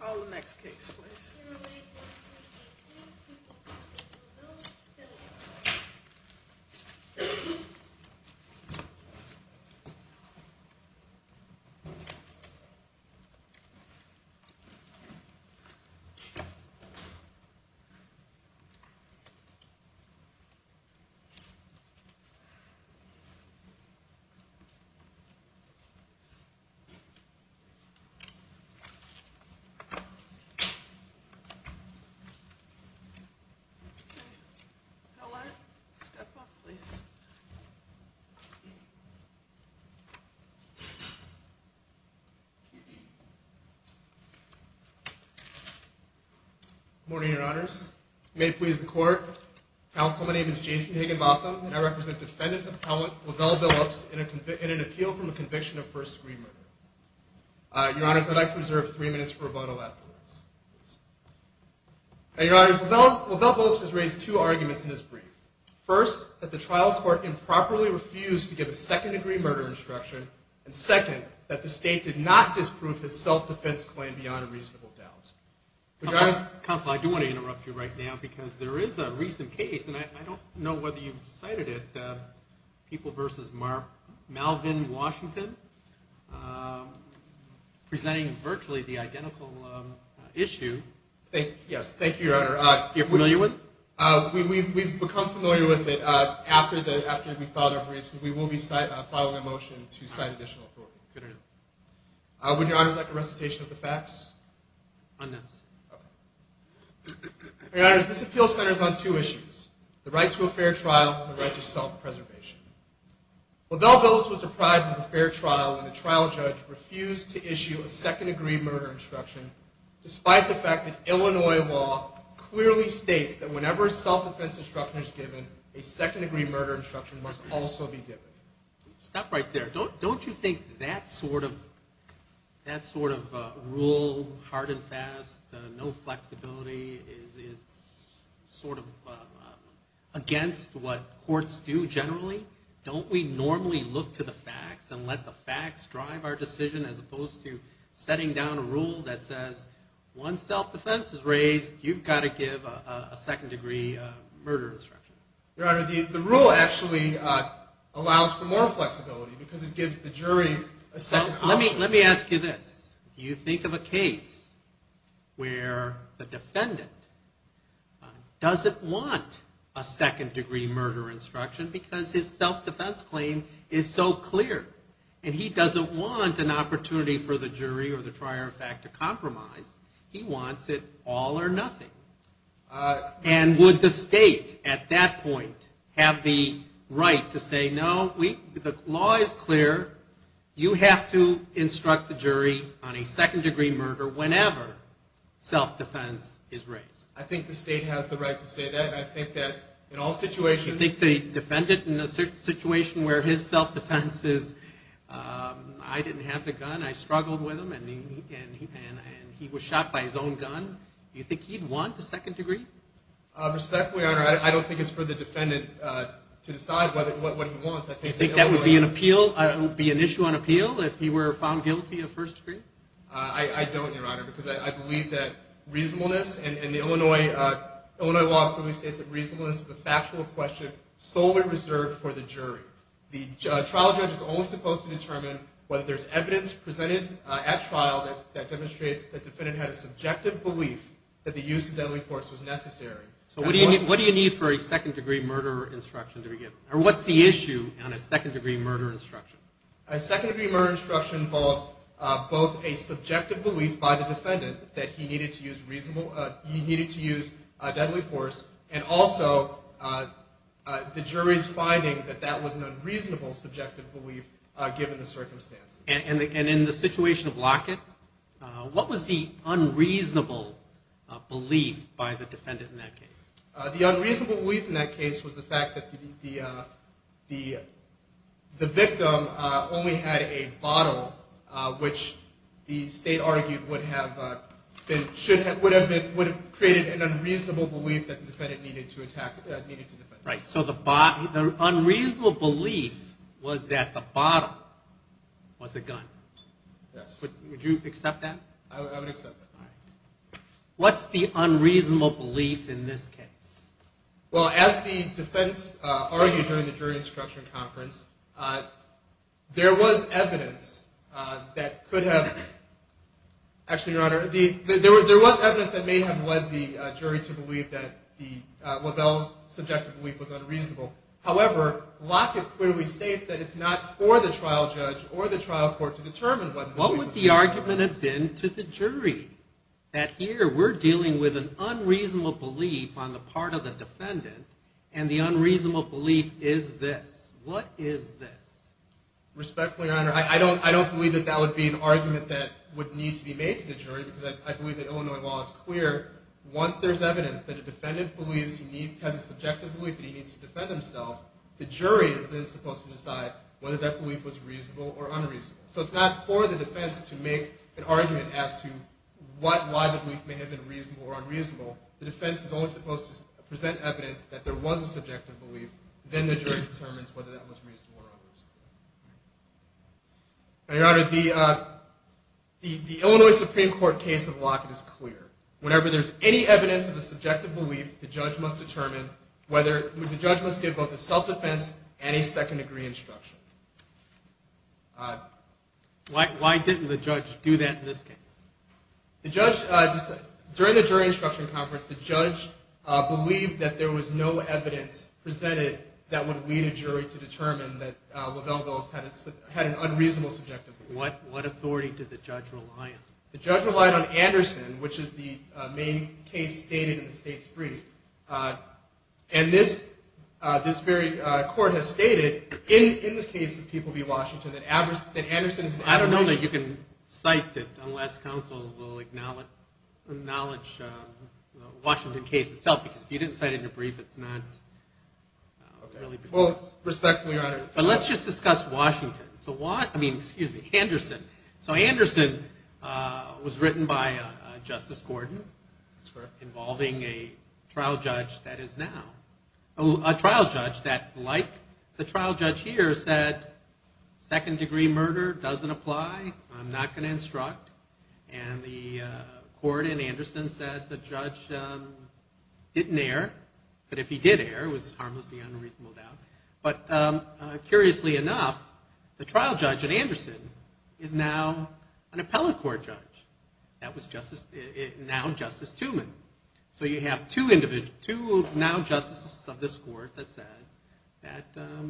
Call the next case please. Good morning, your honors. May it please the court. Counsel, my name is Jason Higginbotham and I represent Defendant Appellant Lovell Billups in an appeal from a conviction of first degree murder. Your honors, I'd like to reserve three minutes for rebuttal afterwards. Your honors, Lovell Billups has raised two arguments in his brief. First, that the trial court improperly refused to give a second degree murder instruction and second, that the state did not disprove his self-defense claim beyond a reasonable doubt. Counsel, I do want to interrupt you right now because there is a recent case and I don't know whether you've cited it, People v. Malvin Washington, presenting virtually the identical issue. Yes, thank you, your honor. You're familiar with it? We've become familiar with it after we filed our briefs and we will be filing a motion to cite additional authority. Good to know. Would your honors like a recitation of the facts? On this. Your honors, this appeal centers on two issues, the right to a fair trial and the right to self-preservation. Lovell Billups was deprived of a fair trial when the trial judge refused to issue a second degree murder instruction despite the fact that Illinois law clearly states that whenever a self-defense instruction is given, a second degree murder instruction must also be given. Stop right there. Don't you think that sort of rule, hard and fast, no flexibility, is sort of against what courts do generally? Don't we normally look to the facts and let the facts drive our decision as opposed to setting down a rule that says once self-defense is raised, you've got to give a second degree murder instruction? Your honor, the rule actually allows for more flexibility because it gives the jury a second option. Let me ask you this. Do you think of a case where the defendant doesn't want a second degree murder instruction because his self-defense claim is so clear and he doesn't want an opportunity for the jury or the trier of fact to compromise. He wants it all or nothing. And would the state at that a second degree murder whenever self-defense is raised? I think the state has the right to say that and I think that in all situations. Do you think the defendant in a situation where his self-defense is, I didn't have the gun, I struggled with him and he was shot by his own gun, do you think he'd want the second degree? Respectfully, your honor, I don't think it's for the defendant to decide what he wants. Do you think that would be an issue on appeal if he were found guilty of first degree? I don't, your honor, because I believe that reasonableness and the Illinois law clearly states that reasonableness is a factual question solely reserved for the jury. The trial judge is only supposed to determine whether there's evidence presented at trial that demonstrates the defendant had a subjective belief that the use of deadly force was necessary. So what do you need for a second degree murder instruction to begin? Or what's the issue on a second degree murder instruction? A second degree murder instruction involves both a subjective belief by the defendant that he needed to use deadly force and also the jury's finding that that was an unreasonable subjective belief given the circumstances. And in the situation of Lockett, what was the unreasonable belief by the defendant in that case? The unreasonable belief in that case was the fact that the victim only had a bottle, which the state argued would have created an unreasonable belief that the defendant needed to defend himself. Right, so the unreasonable belief was that the bottle was a gun. Yes. Would you accept that? I would accept that. What's the unreasonable belief in this case? Well, as the defense argued during the jury instruction conference, there was evidence that may have led the jury to believe that LaBelle's subjective belief was unreasonable. However, Lockett clearly states that it's not for the trial judge or the trial court What would the argument have been to the jury that here we're dealing with an unreasonable belief on the part of the defendant and the unreasonable belief is this? What is this? Respectfully, Your Honor, I don't believe that that would be an argument that would need to be made to the jury because I believe that Illinois law is clear. Once there's evidence that a defendant has a subjective belief that he needs to defend himself, the jury is then supposed to decide whether that belief was reasonable or unreasonable. So it's not for the defense to make an argument as to why the belief may have been reasonable or unreasonable. The defense is only supposed to present evidence that there was a subjective belief. Then the jury determines whether that was reasonable or unreasonable. Now, Your Honor, the Illinois Supreme Court case of Lockett is clear. Whenever there's any evidence of a subjective belief, the judge must give both a self-defense and a second-degree instruction. Why didn't the judge do that in this case? During the jury instruction conference, the judge believed that there was no evidence presented that would lead a jury to determine that Lavelle Belles had an unreasonable subjective belief. What authority did the judge rely on? The judge relied on Anderson, which is the main case stated in the state's brief. And this very court has stated, in the case of People v. Washington, that Anderson is an average... I don't know that you can cite it unless counsel will acknowledge the Washington case itself because if you didn't cite it in your brief, it's not really... But let's just discuss Washington. So Anderson was written by Justice Gordon, involving a trial judge that is now... A trial judge that, like the trial judge here, said, second-degree murder doesn't apply, I'm not going to instruct. And the court in Anderson said the judge didn't err, but if he did err, it was harmless beyond a reasonable doubt. But curiously enough, the trial judge in Anderson is now an appellate court judge. That was now Justice Tumen. So you have two now justices of this court that said that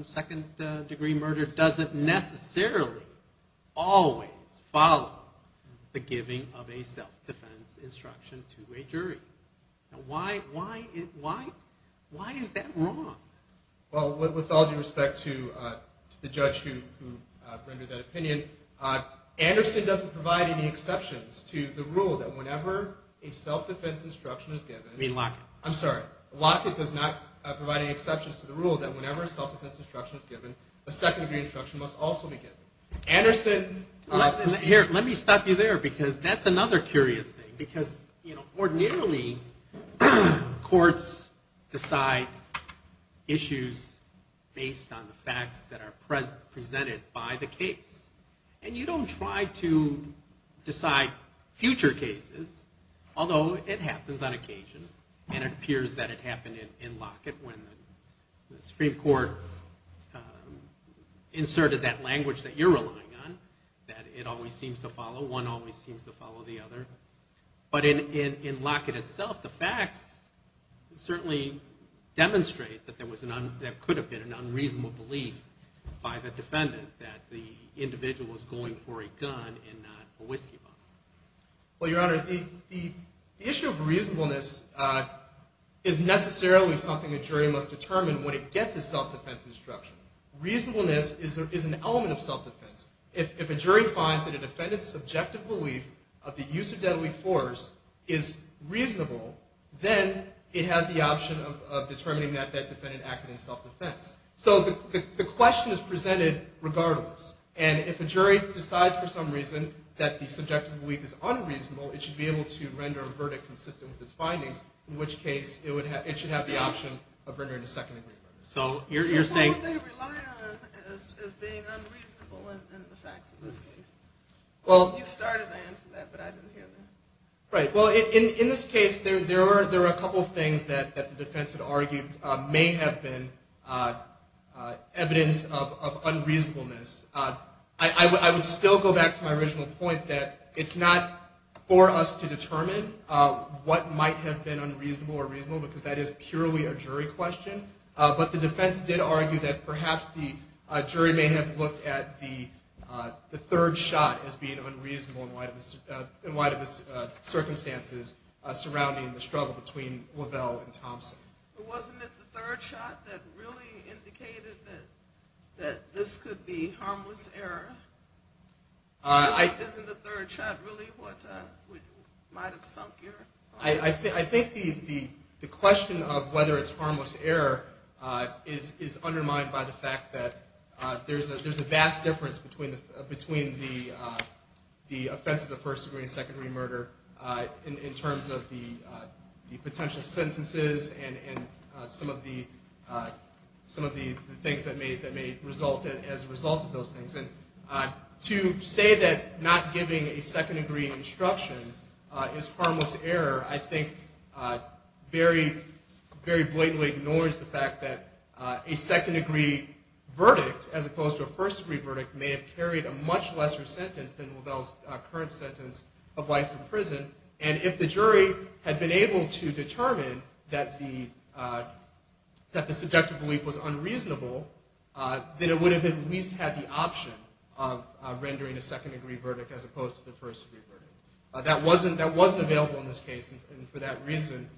second-degree murder doesn't necessarily always follow the giving of a self-defense instruction to a jury. Why is that wrong? Well, with all due respect to the judge who rendered that opinion, Anderson doesn't provide any exceptions to the rule that whenever a self-defense instruction is given... Anderson... Let me stop you there, because that's another curious thing, because ordinarily, courts decide issues based on the facts that are presented by the case. And you don't try to decide future cases, although it happens on occasion, and it appears that it happened in Lockett when the Supreme Court inserted that language that you're relying on, that it always seems to follow, one always seems to follow the other. But in Lockett itself, the facts certainly demonstrate that there could have been an unreasonable belief by the defendant that the individual was going for a gun and not a whiskey bottle. Well, Your Honor, the issue of reasonableness is necessarily something a jury must determine when it gets a self-defense instruction. Reasonableness is an element of self-defense. If a jury finds that a defendant's subjective belief of the use of deadly force is reasonable, then it has the option of determining that that defendant acted in self-defense. So the question is presented regardless. And if a jury decides for some reason that the subjective belief is unreasonable, it should be able to render a verdict consistent with its findings, in which case it should have the option of rendering a second-degree verdict. So why would they rely on as being unreasonable in the facts of this case? You started to answer that, but I didn't hear that. Right. Well, in this case, there were a couple of things that the defense had argued may have been evidence of unreasonableness. I would still go back to my original point that it's not for us to determine what might have been unreasonable or reasonable, because that is purely a jury question. But the defense did argue that perhaps the jury may have looked at the third shot as being unreasonable in light of the circumstances surrounding the struggle between Lavelle and Thompson. But wasn't it the third shot that really indicated that this could be harmless error? Isn't the third shot really what might have sunk your argument? I think the question of whether it's harmless error is undermined by the fact that there's a vast difference between the offenses of first-degree and second-degree murder in terms of the potential sentences and some of the things that may result as a result of those things. And to say that not giving a second-degree instruction is harmless error I think very blatantly ignores the fact that a second-degree verdict as opposed to a first-degree verdict may have carried a much lesser sentence than Lavelle's current sentence of life in prison. And if the jury had been able to determine that the subjective belief was unreasonable, then it would have at least had the option of rendering a second-degree verdict as opposed to the first-degree verdict. That wasn't available in this case, and for that reason,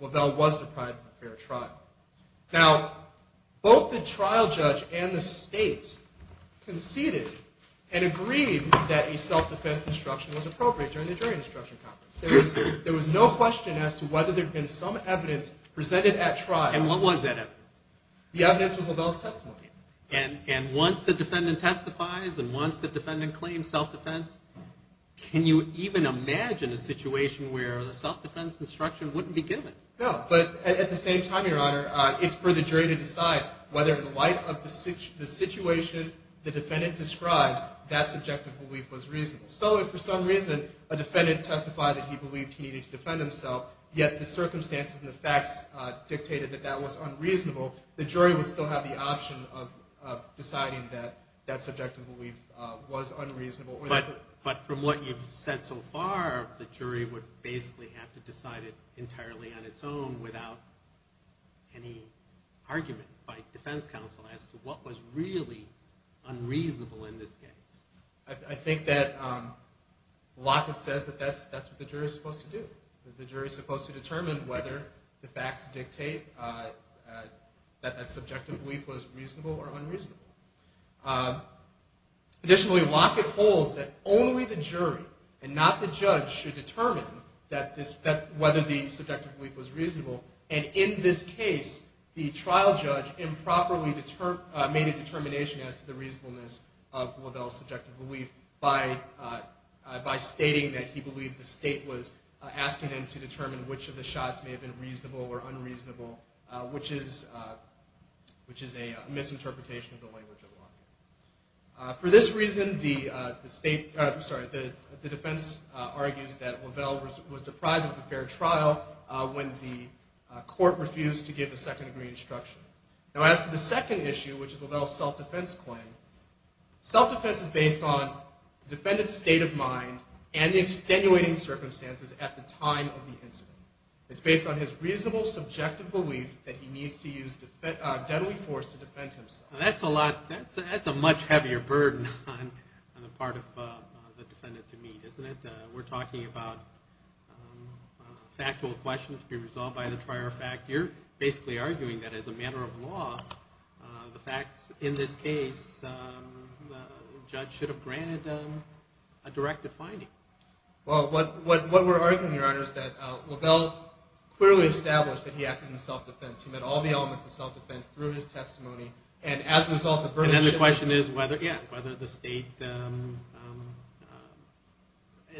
Lavelle was deprived of a fair trial. Now, both the trial judge and the state conceded and agreed that a self-defense instruction was appropriate during the jury instruction conference. There was no question as to whether there had been some evidence presented at trial. And what was that evidence? The evidence was Lavelle's testimony. And once the defendant testifies and once the defendant claims self-defense, can you even imagine a situation where a self-defense instruction wouldn't be given? No, but at the same time, Your Honor, it's for the jury to decide whether in light of the situation the defendant describes, that subjective belief was reasonable. So if for some reason a defendant testified that he believed he needed to defend himself, yet the circumstances and the facts dictated that that was unreasonable, the jury would still have the option of deciding that that subjective belief was unreasonable. But from what you've said so far, the jury would basically have to decide it entirely on its own without any argument by defense counsel as to what was really unreasonable in this case. I think that Lockett says that that's what the jury is supposed to do. The jury is supposed to determine whether the facts dictate that that subjective belief was reasonable or unreasonable. Additionally, Lockett holds that only the jury and not the judge should determine whether the subjective belief was reasonable. And in this case, the trial judge improperly made a determination as to the reasonableness of Lavelle's subjective belief by stating that he believed that the state was asking him to determine which of the shots may have been reasonable or unreasonable, which is a misinterpretation of the language of Lockett. For this reason, the defense argues that Lavelle was deprived of a fair trial when the court refused to give the second degree instruction. Now as to the second issue, which is Lavelle's self-defense claim, self-defense is based on the defendant's state of mind and the extenuating circumstances at the time of the incident. It's based on his reasonable subjective belief that he needs to use deadly force to defend himself. That's a much heavier burden on the part of the defendant to meet, isn't it? We're talking about a factual question to be resolved by the prior fact. You're basically arguing that as a matter of law, the facts in this case, the judge should have granted a directive finding. Well, what we're arguing, Your Honor, is that Lavelle clearly established that he acted in self-defense. He met all the elements of self-defense through his testimony. And then the question is whether the state at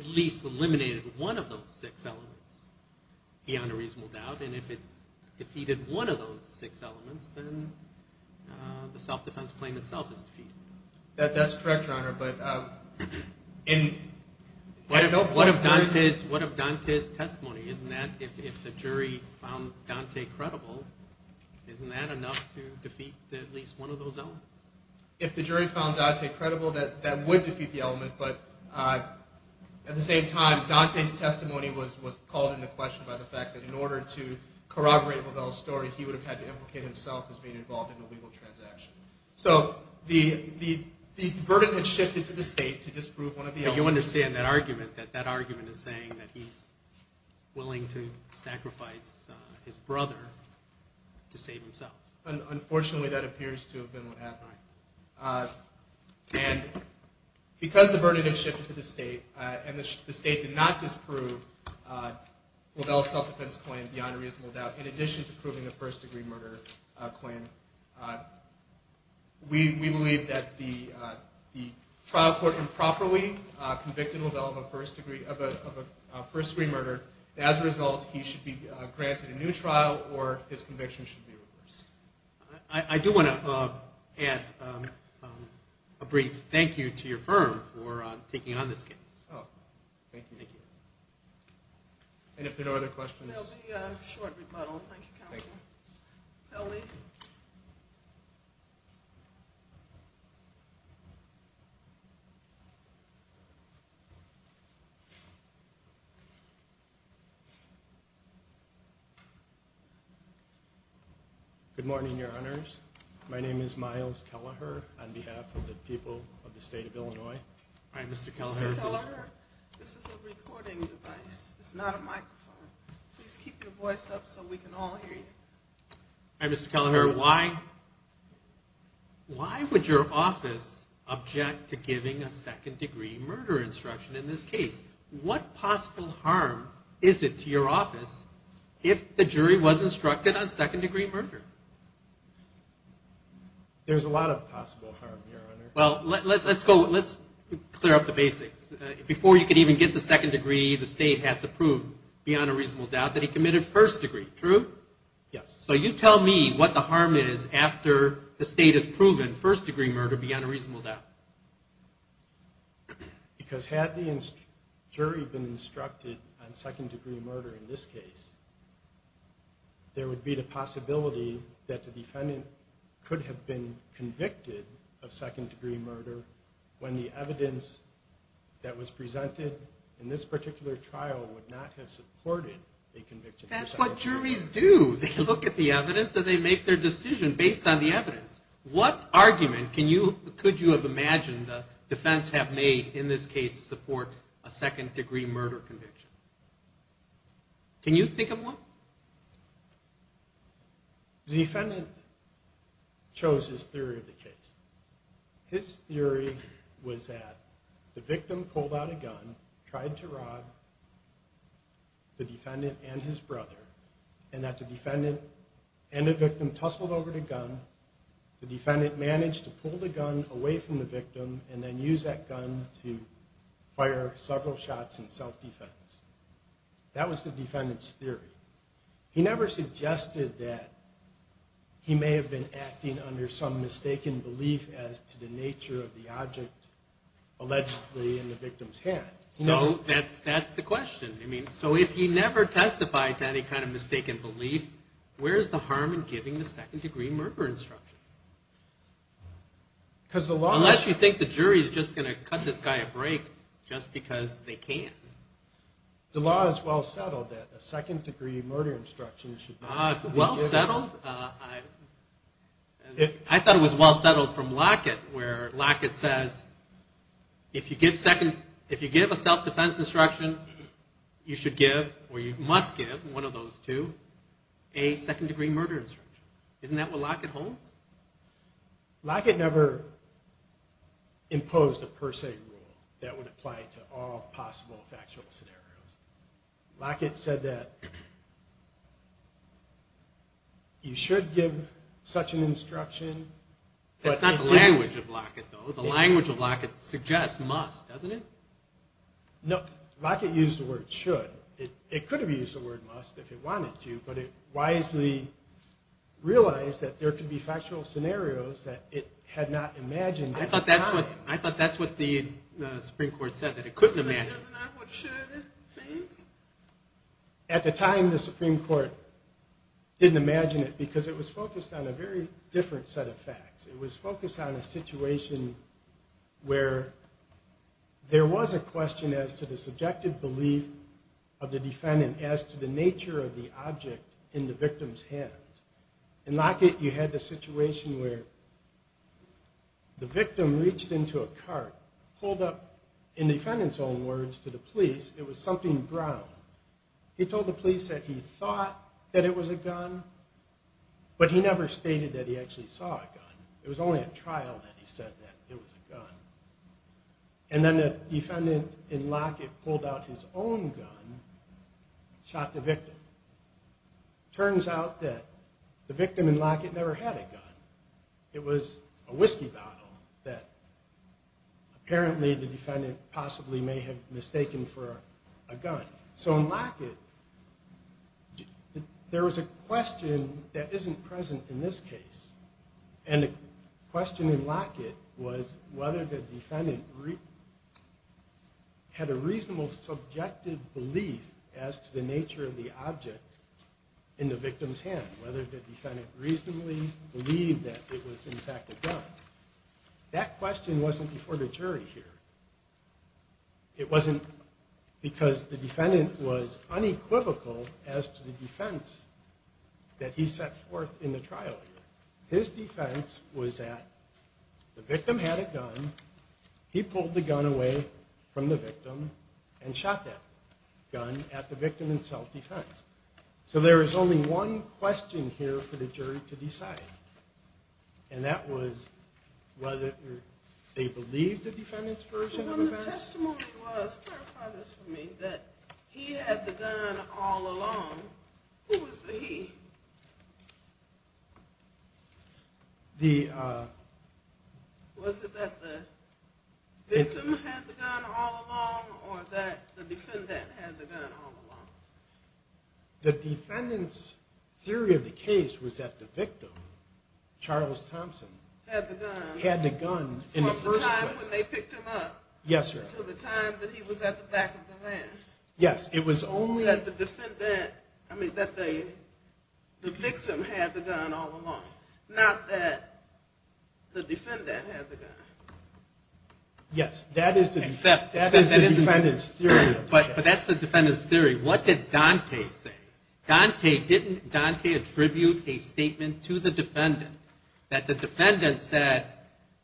least eliminated one of those six elements beyond a reasonable doubt. And if it defeated one of those six elements, then the self-defense claim itself is defeated. That's correct, Your Honor. What of Dante's testimony? If the jury found Dante credible, isn't that enough to defeat at least one of those elements? If the jury found Dante credible, that would defeat the element, but at the same time, Dante's testimony was called into question by the fact that in order to corroborate Lavelle's story, he would have had to implicate himself as being involved in an illegal transaction. So the burden had shifted to the state to disprove one of the elements. You understand that argument, that that argument is saying that he's willing to sacrifice his brother to save himself. Unfortunately, that appears to have been what happened. And because the burden had shifted to the state, and the state did not disprove Lavelle's self-defense claim beyond a reasonable doubt, in addition to proving a first-degree murder claim, we believe that the trial court improperly convicted Lavelle of a first-degree murder, and as a result, he should be granted a new trial, or his conviction should be reversed. I do want to add a brief thank you to your firm for taking on this case. Thank you. Good morning, Your Honors. My name is Myles Kelleher on behalf of the people of the state of Illinois. Mr. Kelleher, this is a recording device. It's not a microphone. Please keep your voice up so we can all hear you. Mr. Kelleher, why would your office object to giving a second-degree murder instruction in this case? What possible harm is it to your office if the jury was instructed on second-degree murder? Well, let's clear up the basics. Before you could even get the second degree, the state has to prove beyond a reasonable doubt that he committed first degree. True? Yes. So you tell me what the harm is after the state has proven first-degree murder beyond a reasonable doubt. Because had the jury been instructed on second-degree murder in this case, there would be the possibility that the defendant could have been convicted of second-degree murder when the evidence that was presented in this particular trial would not have supported a conviction. That's what juries do. They look at the evidence and they make their decision based on the evidence. What argument could you have imagined the defense have made in this case to support a second-degree murder conviction? Can you think of one? The defendant chose his theory of the case. His theory was that the victim pulled out a gun, tried to rob the defendant and his brother, and that the defendant and the victim tussled over the gun. The defendant managed to pull the gun away from the victim and then use that gun to fire several shots in self-defense. That was the defendant's theory. He never suggested that he may have been acting under some mistaken belief as to the nature of the object allegedly in the victim's hand. That's the question. If he never testified to any kind of mistaken belief, where is the harm in giving the second-degree murder instruction? Unless you think the jury is just going to cut this guy a break just because they can't. The law is well settled that a second-degree murder instruction should not be given. I thought it was well settled from Lockett, where Lockett says, if you give a self-defense instruction, you should give, or you must give, one of those two, a second-degree murder instruction. Isn't that what Lockett holds? Lockett never imposed a per se rule that would apply to all possible factual scenarios. Lockett said that you should give such an instruction. That's not the language of Lockett, though. The language of Lockett suggests must, doesn't it? No. Lockett used the word should. It could have used the word must if it wanted to, but it wisely realized that there could be factual scenarios that it had not imagined at the time. I thought that's what the Supreme Court said, that it couldn't imagine. Isn't that what should means? At the time, the Supreme Court didn't imagine it because it was focused on a very different set of facts. It was focused on a situation where there was a question as to the subjective belief of the defendant as to the nature of the object in the victim's hands. In Lockett, you had the situation where the victim reached into a cart, pulled up, in the defendant's own words, to the police, it was something brown. He told the police that he thought that it was a gun, but he never stated that he actually saw a gun. It was only at trial that he said that it was a gun. And then the defendant in Lockett pulled out his own gun, shot the victim. Turns out that the victim in Lockett never had a gun. It was a whiskey bottle that apparently the defendant possibly may have mistaken for a gun. So in Lockett, there was a question that isn't present in this case. And the question in Lockett was whether the defendant had a reasonable subjective belief as to the nature of the object in the victim's hand. Whether the defendant reasonably believed that it was in fact a gun. That question wasn't before the jury here. It wasn't because the defendant was unequivocal as to the defense that he set forth in the trial here. His defense was that the victim had a gun, he pulled the gun away from the victim, and shot that gun at the victim in self-defense. So there is only one question here for the jury to decide. And that was whether they believed the defendant's version of events. So when the testimony was, clarify this for me, that he had the gun all along, who was the he? Was it that the victim had the gun all along, or that the defendant had the gun all along? The defendant's theory of the case was that the victim, Charles Thompson, had the gun in the first place. Yes, it was only that the victim had the gun all along. Not that the defendant had the gun. Yes, that is the defendant's theory. What did Dante say? Didn't Dante attribute a statement to the defendant that the defendant said,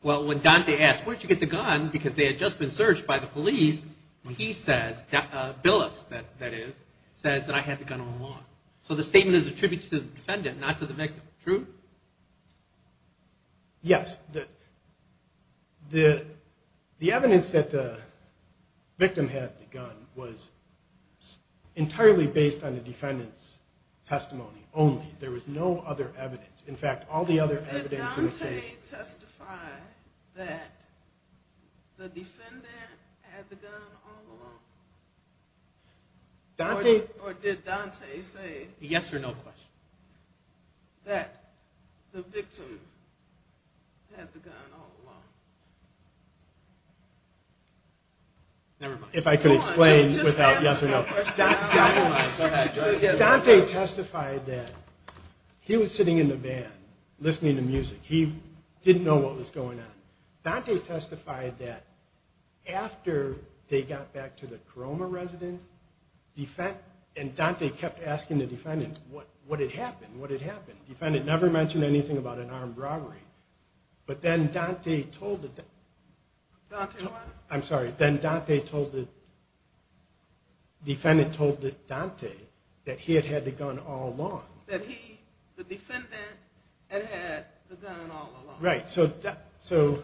well when Dante asked, where did you get the gun, because they had just been searched by the police, he says, Billups that is, says that I had the gun all along. So the statement is attributed to the defendant, not to the victim, true? Yes. The evidence that the victim had the gun was entirely based on the defendant's testimony only. There was no other evidence. Did Dante testify that the defendant had the gun all along? Or did Dante say, yes or no question? That the victim had the gun all along. Never mind. Dante testified that he was sitting in the van listening to music. He didn't know what was going on. Dante testified that after they got back to the Corona residence, and Dante kept asking the defendant what had happened, the defendant never mentioned anything about an armed robbery, but then Dante told the defendant that he had had the gun all along. That he, the defendant, had had the gun all along. So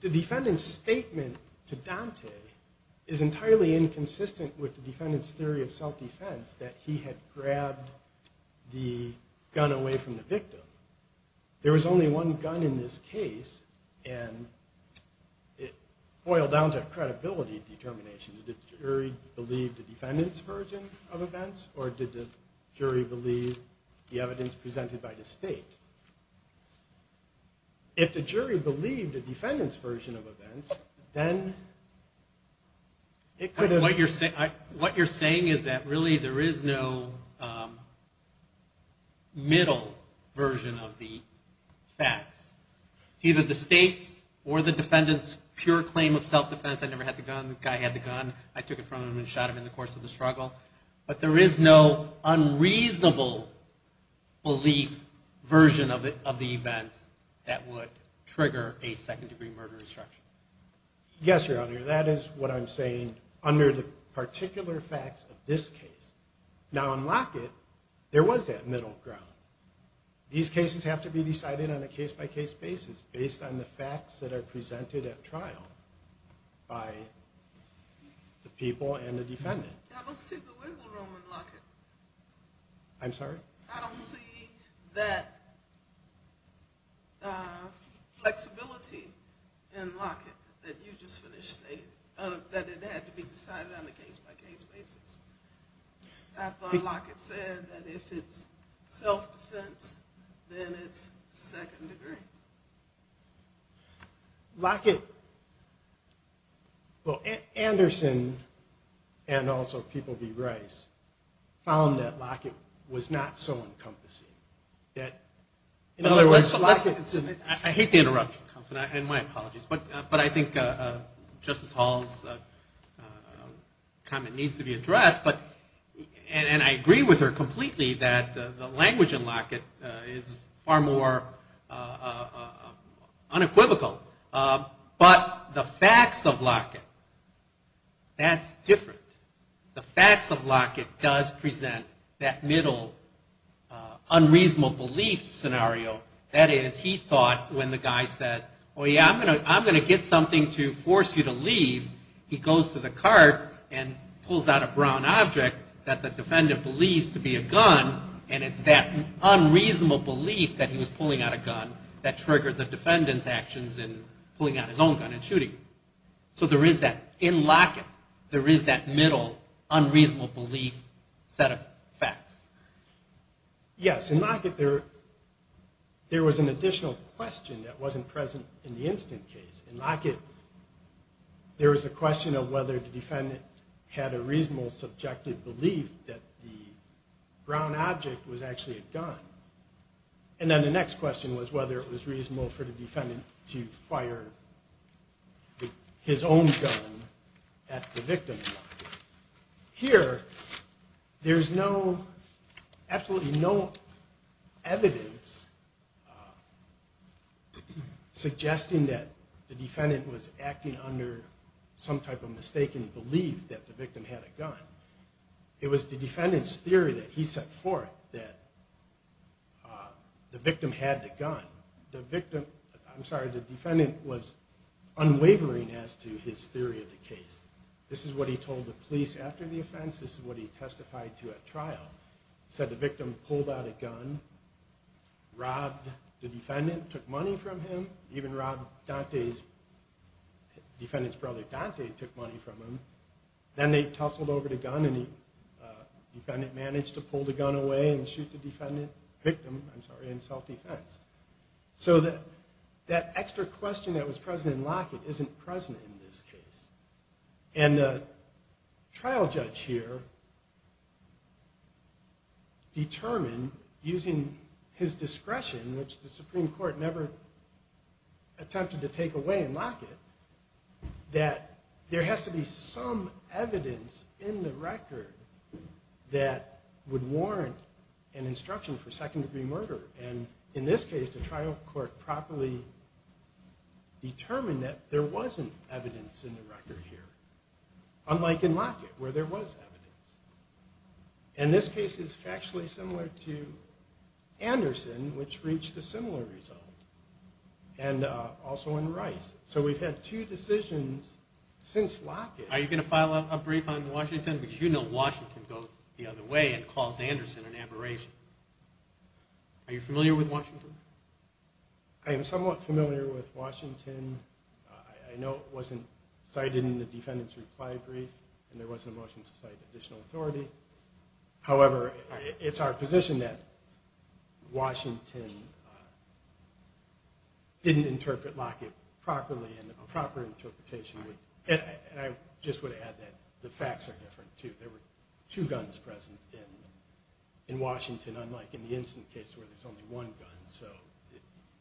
the defendant's statement to Dante is entirely inconsistent with the defendant's theory of self-defense, that he had grabbed the gun away from the victim. There was only one gun in this case, and it boiled down to credibility determination. Did the jury believe the defendant's version of events, or did the jury believe the evidence presented by the state? If the jury believed the defendant's version of events, then it could have... What you're saying is that really there is no middle version of the facts. It's either the state's or the defendant's pure claim of self-defense, I never had the gun, the guy had the gun, I took it from him and shot him in the course of the struggle. But there is no unreasonable belief version of the events that would trigger a second-degree murder instruction. Yes, Your Honor, that is what I'm saying under the particular facts of this case. Now on Lockett, there was that middle ground. These cases have to be decided on a case-by-case basis, based on the facts that are presented at trial by the people and the defendant. I don't see the wiggle room in Lockett. I don't see that flexibility in Lockett that you just finished stating, that it had to be decided on a case-by-case basis. I thought Lockett said that if it's self-defense, then it's second-degree. Lockett... Anderson and also People v. Rice found that Lockett was not so encompassing. I hate the interruption, Counselor, and my apologies, but I think Justice Hall's comment needs to be addressed. And I agree with her completely that the language in Lockett is far more unequivocal. But the facts of Lockett, that's different. The facts of Lockett does present that middle unreasonable belief scenario. That is, he thought when the guy said, oh, yeah, I'm going to get something to force you to leave, he goes to the cart and pulls out a brown object that the defendant believes to be a gun, and it's that unreasonable belief that he was pulling out a gun that triggered the defendant's actions in pulling out his own gun and shooting him. So in Lockett, there is that middle unreasonable belief set of facts. Yes, in Lockett, there was an additional question that wasn't present in the instant case. In Lockett, there was a question of whether the defendant had a reasonable subjective belief that the brown object was actually a gun. And then the next question was whether it was reasonable for the defendant to fire his own gun at the victim. Here, there's absolutely no evidence suggesting that the defendant was acting under some type of mistaken belief that the victim had a gun. It was the defendant's theory that he set forth that the victim had the gun. The defendant was unwavering as to his theory of the case. This is what he told the police after the offense. This is what he testified to at trial. He said the victim pulled out a gun, robbed the defendant, took money from him, even robbed the defendant's brother, Dante, took money from him. Then they tussled over the gun and the defendant managed to pull the gun away and shoot the victim in self-defense. That extra question that was present in Lockett isn't present in this case. The trial judge here determined, using his discretion, which the Supreme Court never attempted to take away in Lockett, that there has to be some evidence in the record that would warrant an instruction for second-degree murder. In this case, the trial court properly determined that there wasn't evidence in the record here, unlike in Lockett, where there was evidence. This case is factually similar to Anderson, which reached a similar result. We've had two decisions since Lockett. Are you going to file a brief on Washington? You know Washington goes the other way and calls Anderson an aberration. I am somewhat familiar with Washington. I know it wasn't cited in the defendant's reply brief and there wasn't a motion to cite additional authority. However, it's our position that Washington didn't interpret Lockett properly and the proper interpretation would. I just would add that the facts are different, too. There were two guns present in Washington, unlike in the instant case where there's only one gun.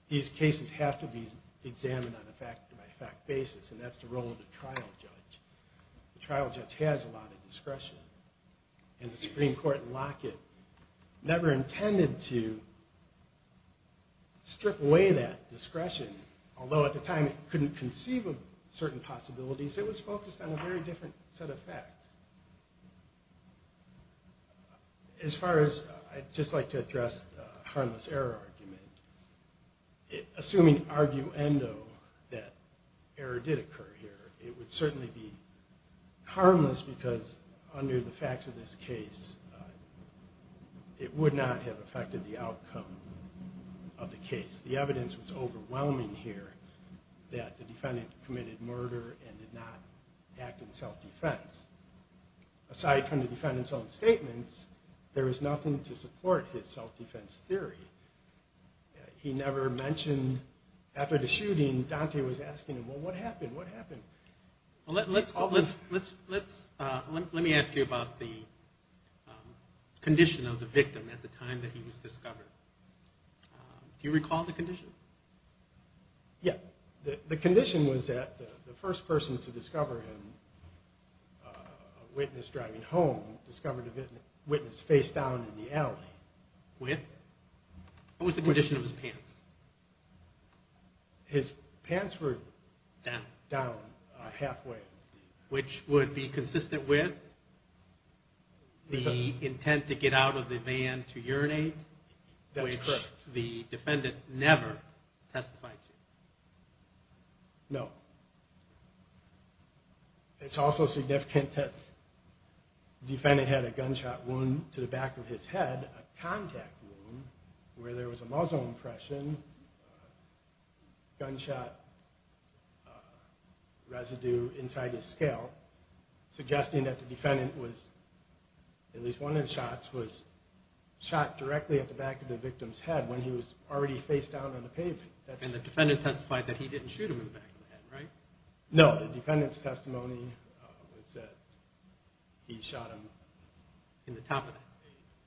These cases have to be examined on a fact-by-fact basis. That's the role of the trial judge. The trial judge has a lot of discretion. The Supreme Court in Lockett never intended to strip away that discretion, although at the time it couldn't conceive of certain possibilities. It was focused on a very different set of facts. As far as I'd just like to address the harmless error argument, assuming arguendo that error did occur here, it would certainly be harmless because under the facts of this case it would not have affected the outcome of the case. The evidence was overwhelming here that the defendant committed murder and did not act in self-defense. Aside from the defendant's own statements, there was nothing to support his self-defense theory. After the shooting, Dante was asking him, well, what happened? Let me ask you about the condition of the victim at the time that he was discovered. Do you recall the condition? Yes. The condition was that the first person to discover him, a witness driving home, discovered a witness face down in the alley. With? What was the condition of his pants? His pants were down halfway. Which would be consistent with the intent to get out of the van to urinate, which the defendant never testified to. No. It's also significant that the defendant had a gunshot wound to the back of his head, a contact wound where there was a muzzle impression, gunshot residue inside his scale, suggesting that the defendant was, at least one of the shots, was shot directly at the back of the victim's head when he was already face down on the pavement. And the defendant testified that he didn't shoot him in the back of the head, right? No. The defendant's testimony was that he shot him in the top of the head.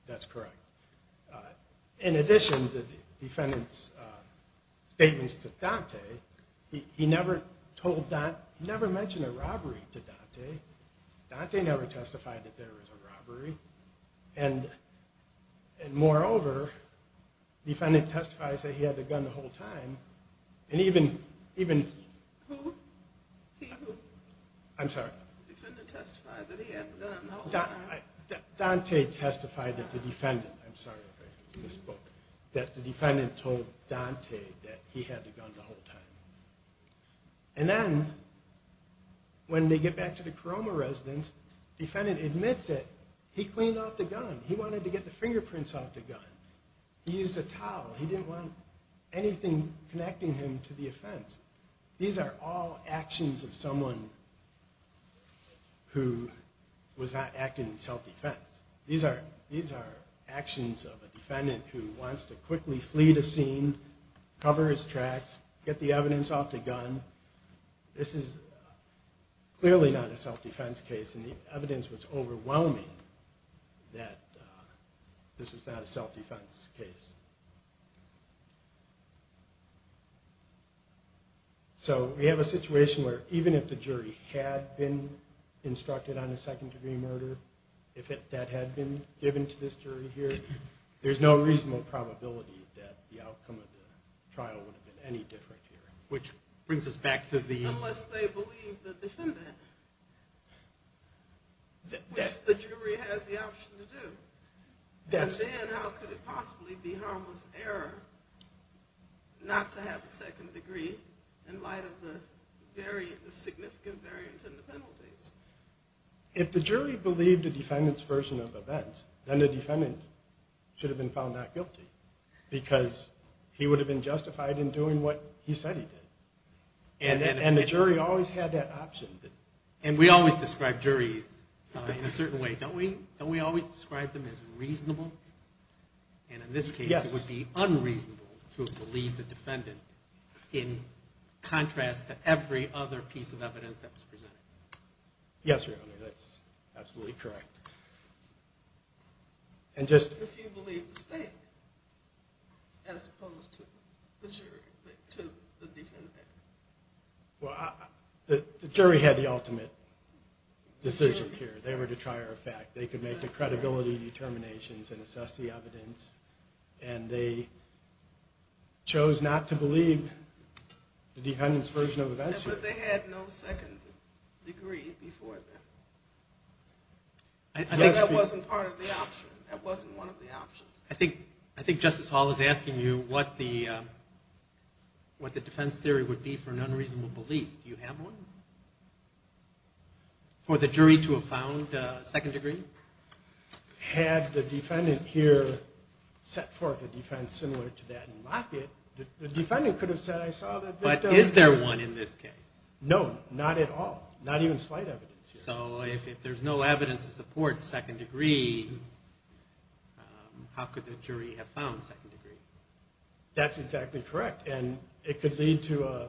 That's correct. In addition to the defendant's statements to Dante, he never mentioned a robbery to Dante. Dante never testified that there was a robbery. And moreover, the defendant testified that he had the gun the whole time. And even... The defendant testified that he had the gun the whole time. Dante testified that the defendant told Dante that he had the gun the whole time. And then, when they get back to the Coroma residence, he wanted to get the fingerprints off the gun. He used a towel. He didn't want anything connecting him to the offense. These are all actions of someone who was not acting in self-defense. These are actions of a defendant who wants to quickly flee the scene, cover his tracks, get the evidence off the gun. This is clearly not a self-defense case, and the evidence was overwhelming that this was not a self-defense case. So we have a situation where even if the jury had been instructed on a second-degree murder, if that had been given to this jury here, there's no reasonable probability that the outcome of the trial would have been any different here. Unless they believe the defendant, which the jury has the option to do. And then how could it possibly be harmless error not to have a second degree in light of the significant variance in the penalties? If the jury believed the defendant's version of events, then the defendant should have been found not guilty, because he would have been justified in doing what he said he did. And the jury always had that option. And we always describe juries in a certain way. Don't we always describe them as reasonable? And in this case it would be unreasonable to believe the defendant in contrast Yes, Your Honor, that's absolutely correct. If you believe the state, as opposed to the jury, to the defendant. Well, the jury had the ultimate decision here. They were to try our fact. They could make the credibility determinations and assess the evidence. And they chose not to believe the defendant's version of events. But they had no second degree before them. So that wasn't part of the option. That wasn't one of the options. I think Justice Hall is asking you what the defense theory would be for an unreasonable belief. Do you have one? For the jury to have found a second degree? Had the defendant here set forth a defense similar to that and mocked it, the defendant could have said I saw that victim. But is there one in this case? No, not at all. Not even slight evidence. So if there's no evidence to support second degree, how could the jury have found second degree? That's exactly correct. And it could lead to a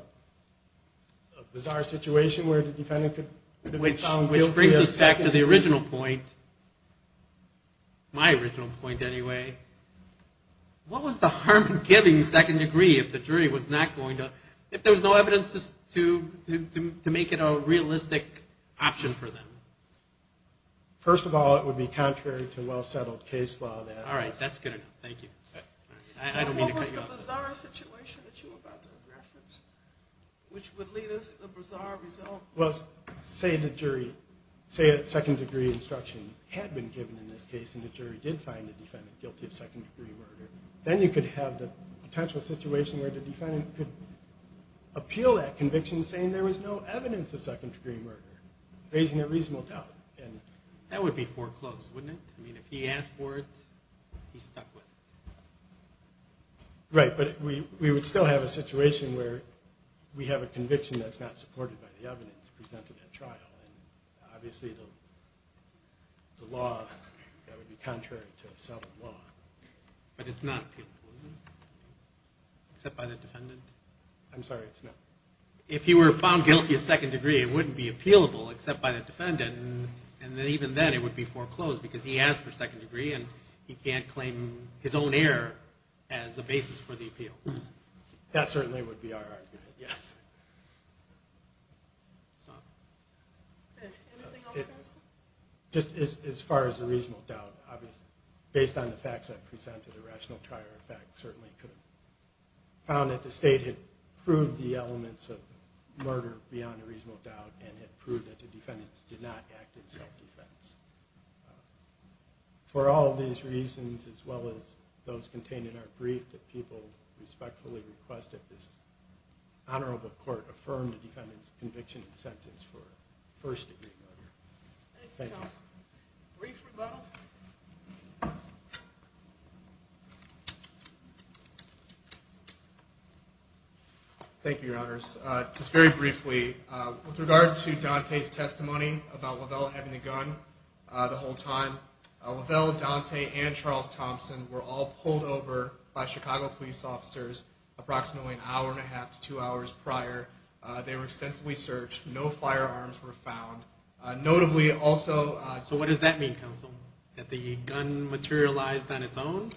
bizarre situation where the defendant could be found guilty of second degree. Which brings us back to the original point. My original point, anyway. What was the harm in giving second degree if there was no evidence to make it a realistic option for them? First of all, it would be contrary to well-settled case law. All right, that's good enough. Thank you. What was the bizarre situation that you were about to reference which would lead us to a bizarre result? Say a second degree instruction had been given in this case and the jury did find the defendant guilty of second degree murder. Then you could have the potential situation where the defendant could appeal that conviction saying there was no evidence of second degree murder, raising a reasonable doubt. That would be foreclosed, wouldn't it? If he asked for it, he's stuck with it. Right, but we would still have a situation where we have a conviction that's not supported by the evidence presented at trial. Obviously the law, that would be contrary to settled law. But it's not appealable, is it? Except by the defendant? I'm sorry, it's not. If he were found guilty of second degree, it wouldn't be appealable except by the defendant. Even then it would be foreclosed because he asked for second degree and he can't claim his own error as a basis for the appeal. That certainly would be our argument, yes. Anything else? Just as far as a reasonable doubt, based on the facts I presented, a rational trial certainly could have found that the state had proved the elements of murder beyond a reasonable doubt and had proved that the defendant did not act in self-defense. For all these reasons as well as those contained in our brief that people respectfully requested, this honorable court affirmed the defendant's conviction and sentence for first degree murder. Thank you. Thank you, your honors. Just very briefly, with regard to Dante's testimony about Lavelle having the gun the whole time, Lavelle, Dante, and Charles Thompson were all pulled over by Chicago police officers approximately an hour and a half to two hours prior. They were extensively searched. No firearms were found. So what does that mean, counsel? That the gun materialized on its own?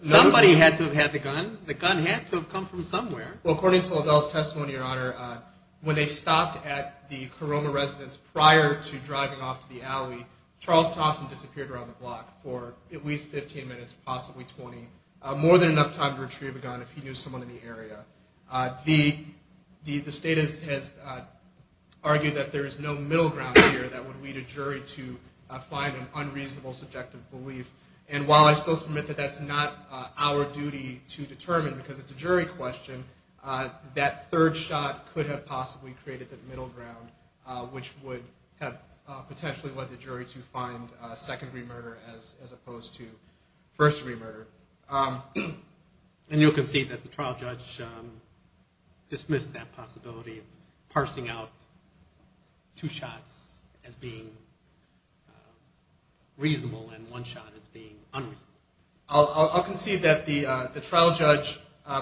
Somebody had to have had the gun. The gun had to have come from somewhere. Well, according to Lavelle's testimony, your honor, when they stopped at the Caroma residence prior to driving off to the alley, Charles Thompson disappeared around the block for at least 15 minutes, possibly 20, more than enough time to retrieve a gun if he knew someone in the area. The state has argued that there is no middle ground here that would lead a jury to find an unreasonable subjective belief. And while I still submit that that's not our duty to determine, because it's a jury question, that third shot could have possibly created the middle ground, which would have potentially led the jury to find second degree murder as opposed to first degree murder. And you'll concede that the trial judge dismissed that possibility of parsing out two shots as being reasonable and one shot as being unreasonable. I'll concede that the trial judge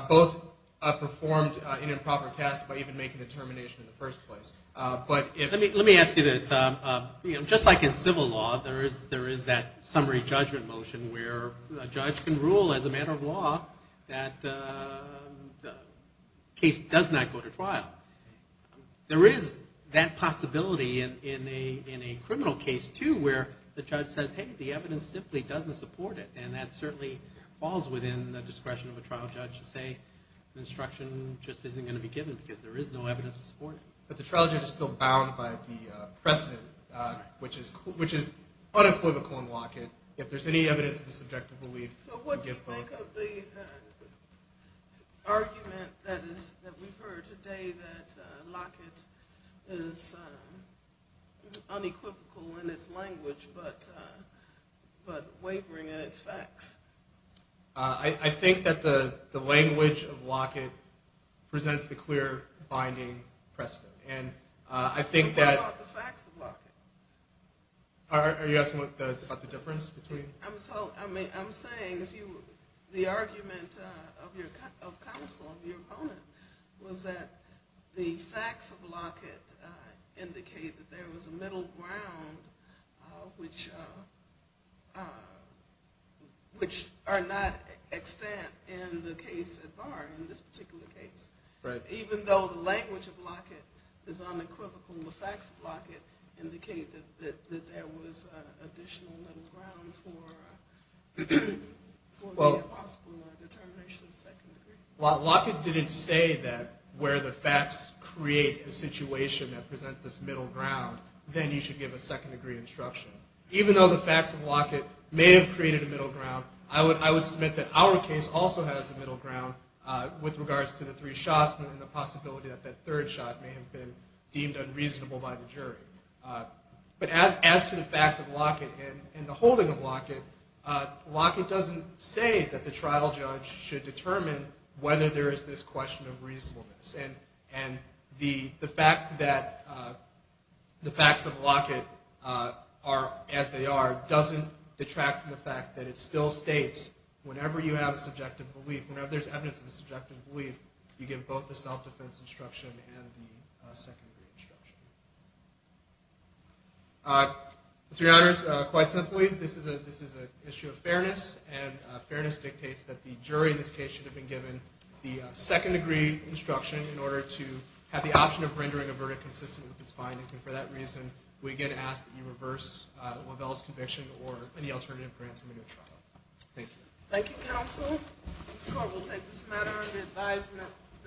both performed an improper test by even making the termination in the first place. Let me ask you this. Just like in civil law, there is that summary judgment motion where a judge can rule as a matter of law that the case does not go to trial. There is that possibility in a criminal case, too, where the judge says, hey, the evidence simply doesn't support it. And that certainly falls within the discretion of a trial judge to say the instruction just isn't going to be given because there is no evidence to support it. But the trial judge is still bound by the precedent, which is unequivocal in Lockett. If there's any evidence of the subjective belief, we'll give both. So what do you think of the argument that we've heard today that Lockett is unequivocal in its language but wavering in its facts? I think that the language of Lockett presents the clear binding precedent. What about the facts of Lockett? I'm saying the argument of counsel, of your opponent, was that the facts of Lockett indicate that there was a middle ground which are not extant in the case at bar, in this particular case. Even though the language of Lockett is unequivocal, the facts of Lockett indicate that there was additional middle ground for the possible determination of second degree. Well, Lockett didn't say that where the facts create the situation that presents this middle ground, then you should give a second degree instruction. Even though the facts of Lockett may have created a middle ground, I would submit that our case also has a middle ground with regards to the three shots and the possibility that that third shot may have been deemed unreasonable by the jury. But as to the facts of Lockett and the holding of Lockett, Lockett doesn't say that the trial judge should determine whether there is this question of reasonableness. And the fact that the facts of Lockett are as they are doesn't detract from the fact that it still states whenever you have a subjective belief, whenever there's evidence of a subjective belief, you give both the self-defense instruction and the second degree instruction. To your honors, quite simply, this is an issue of fairness, and fairness dictates that the jury in this case should have been given the second degree instruction in order to have the option of rendering a verdict consistent with its findings. And for that reason, we again ask that you reverse Lovell's conviction or any alternative grant submitted to the trial. Thank you.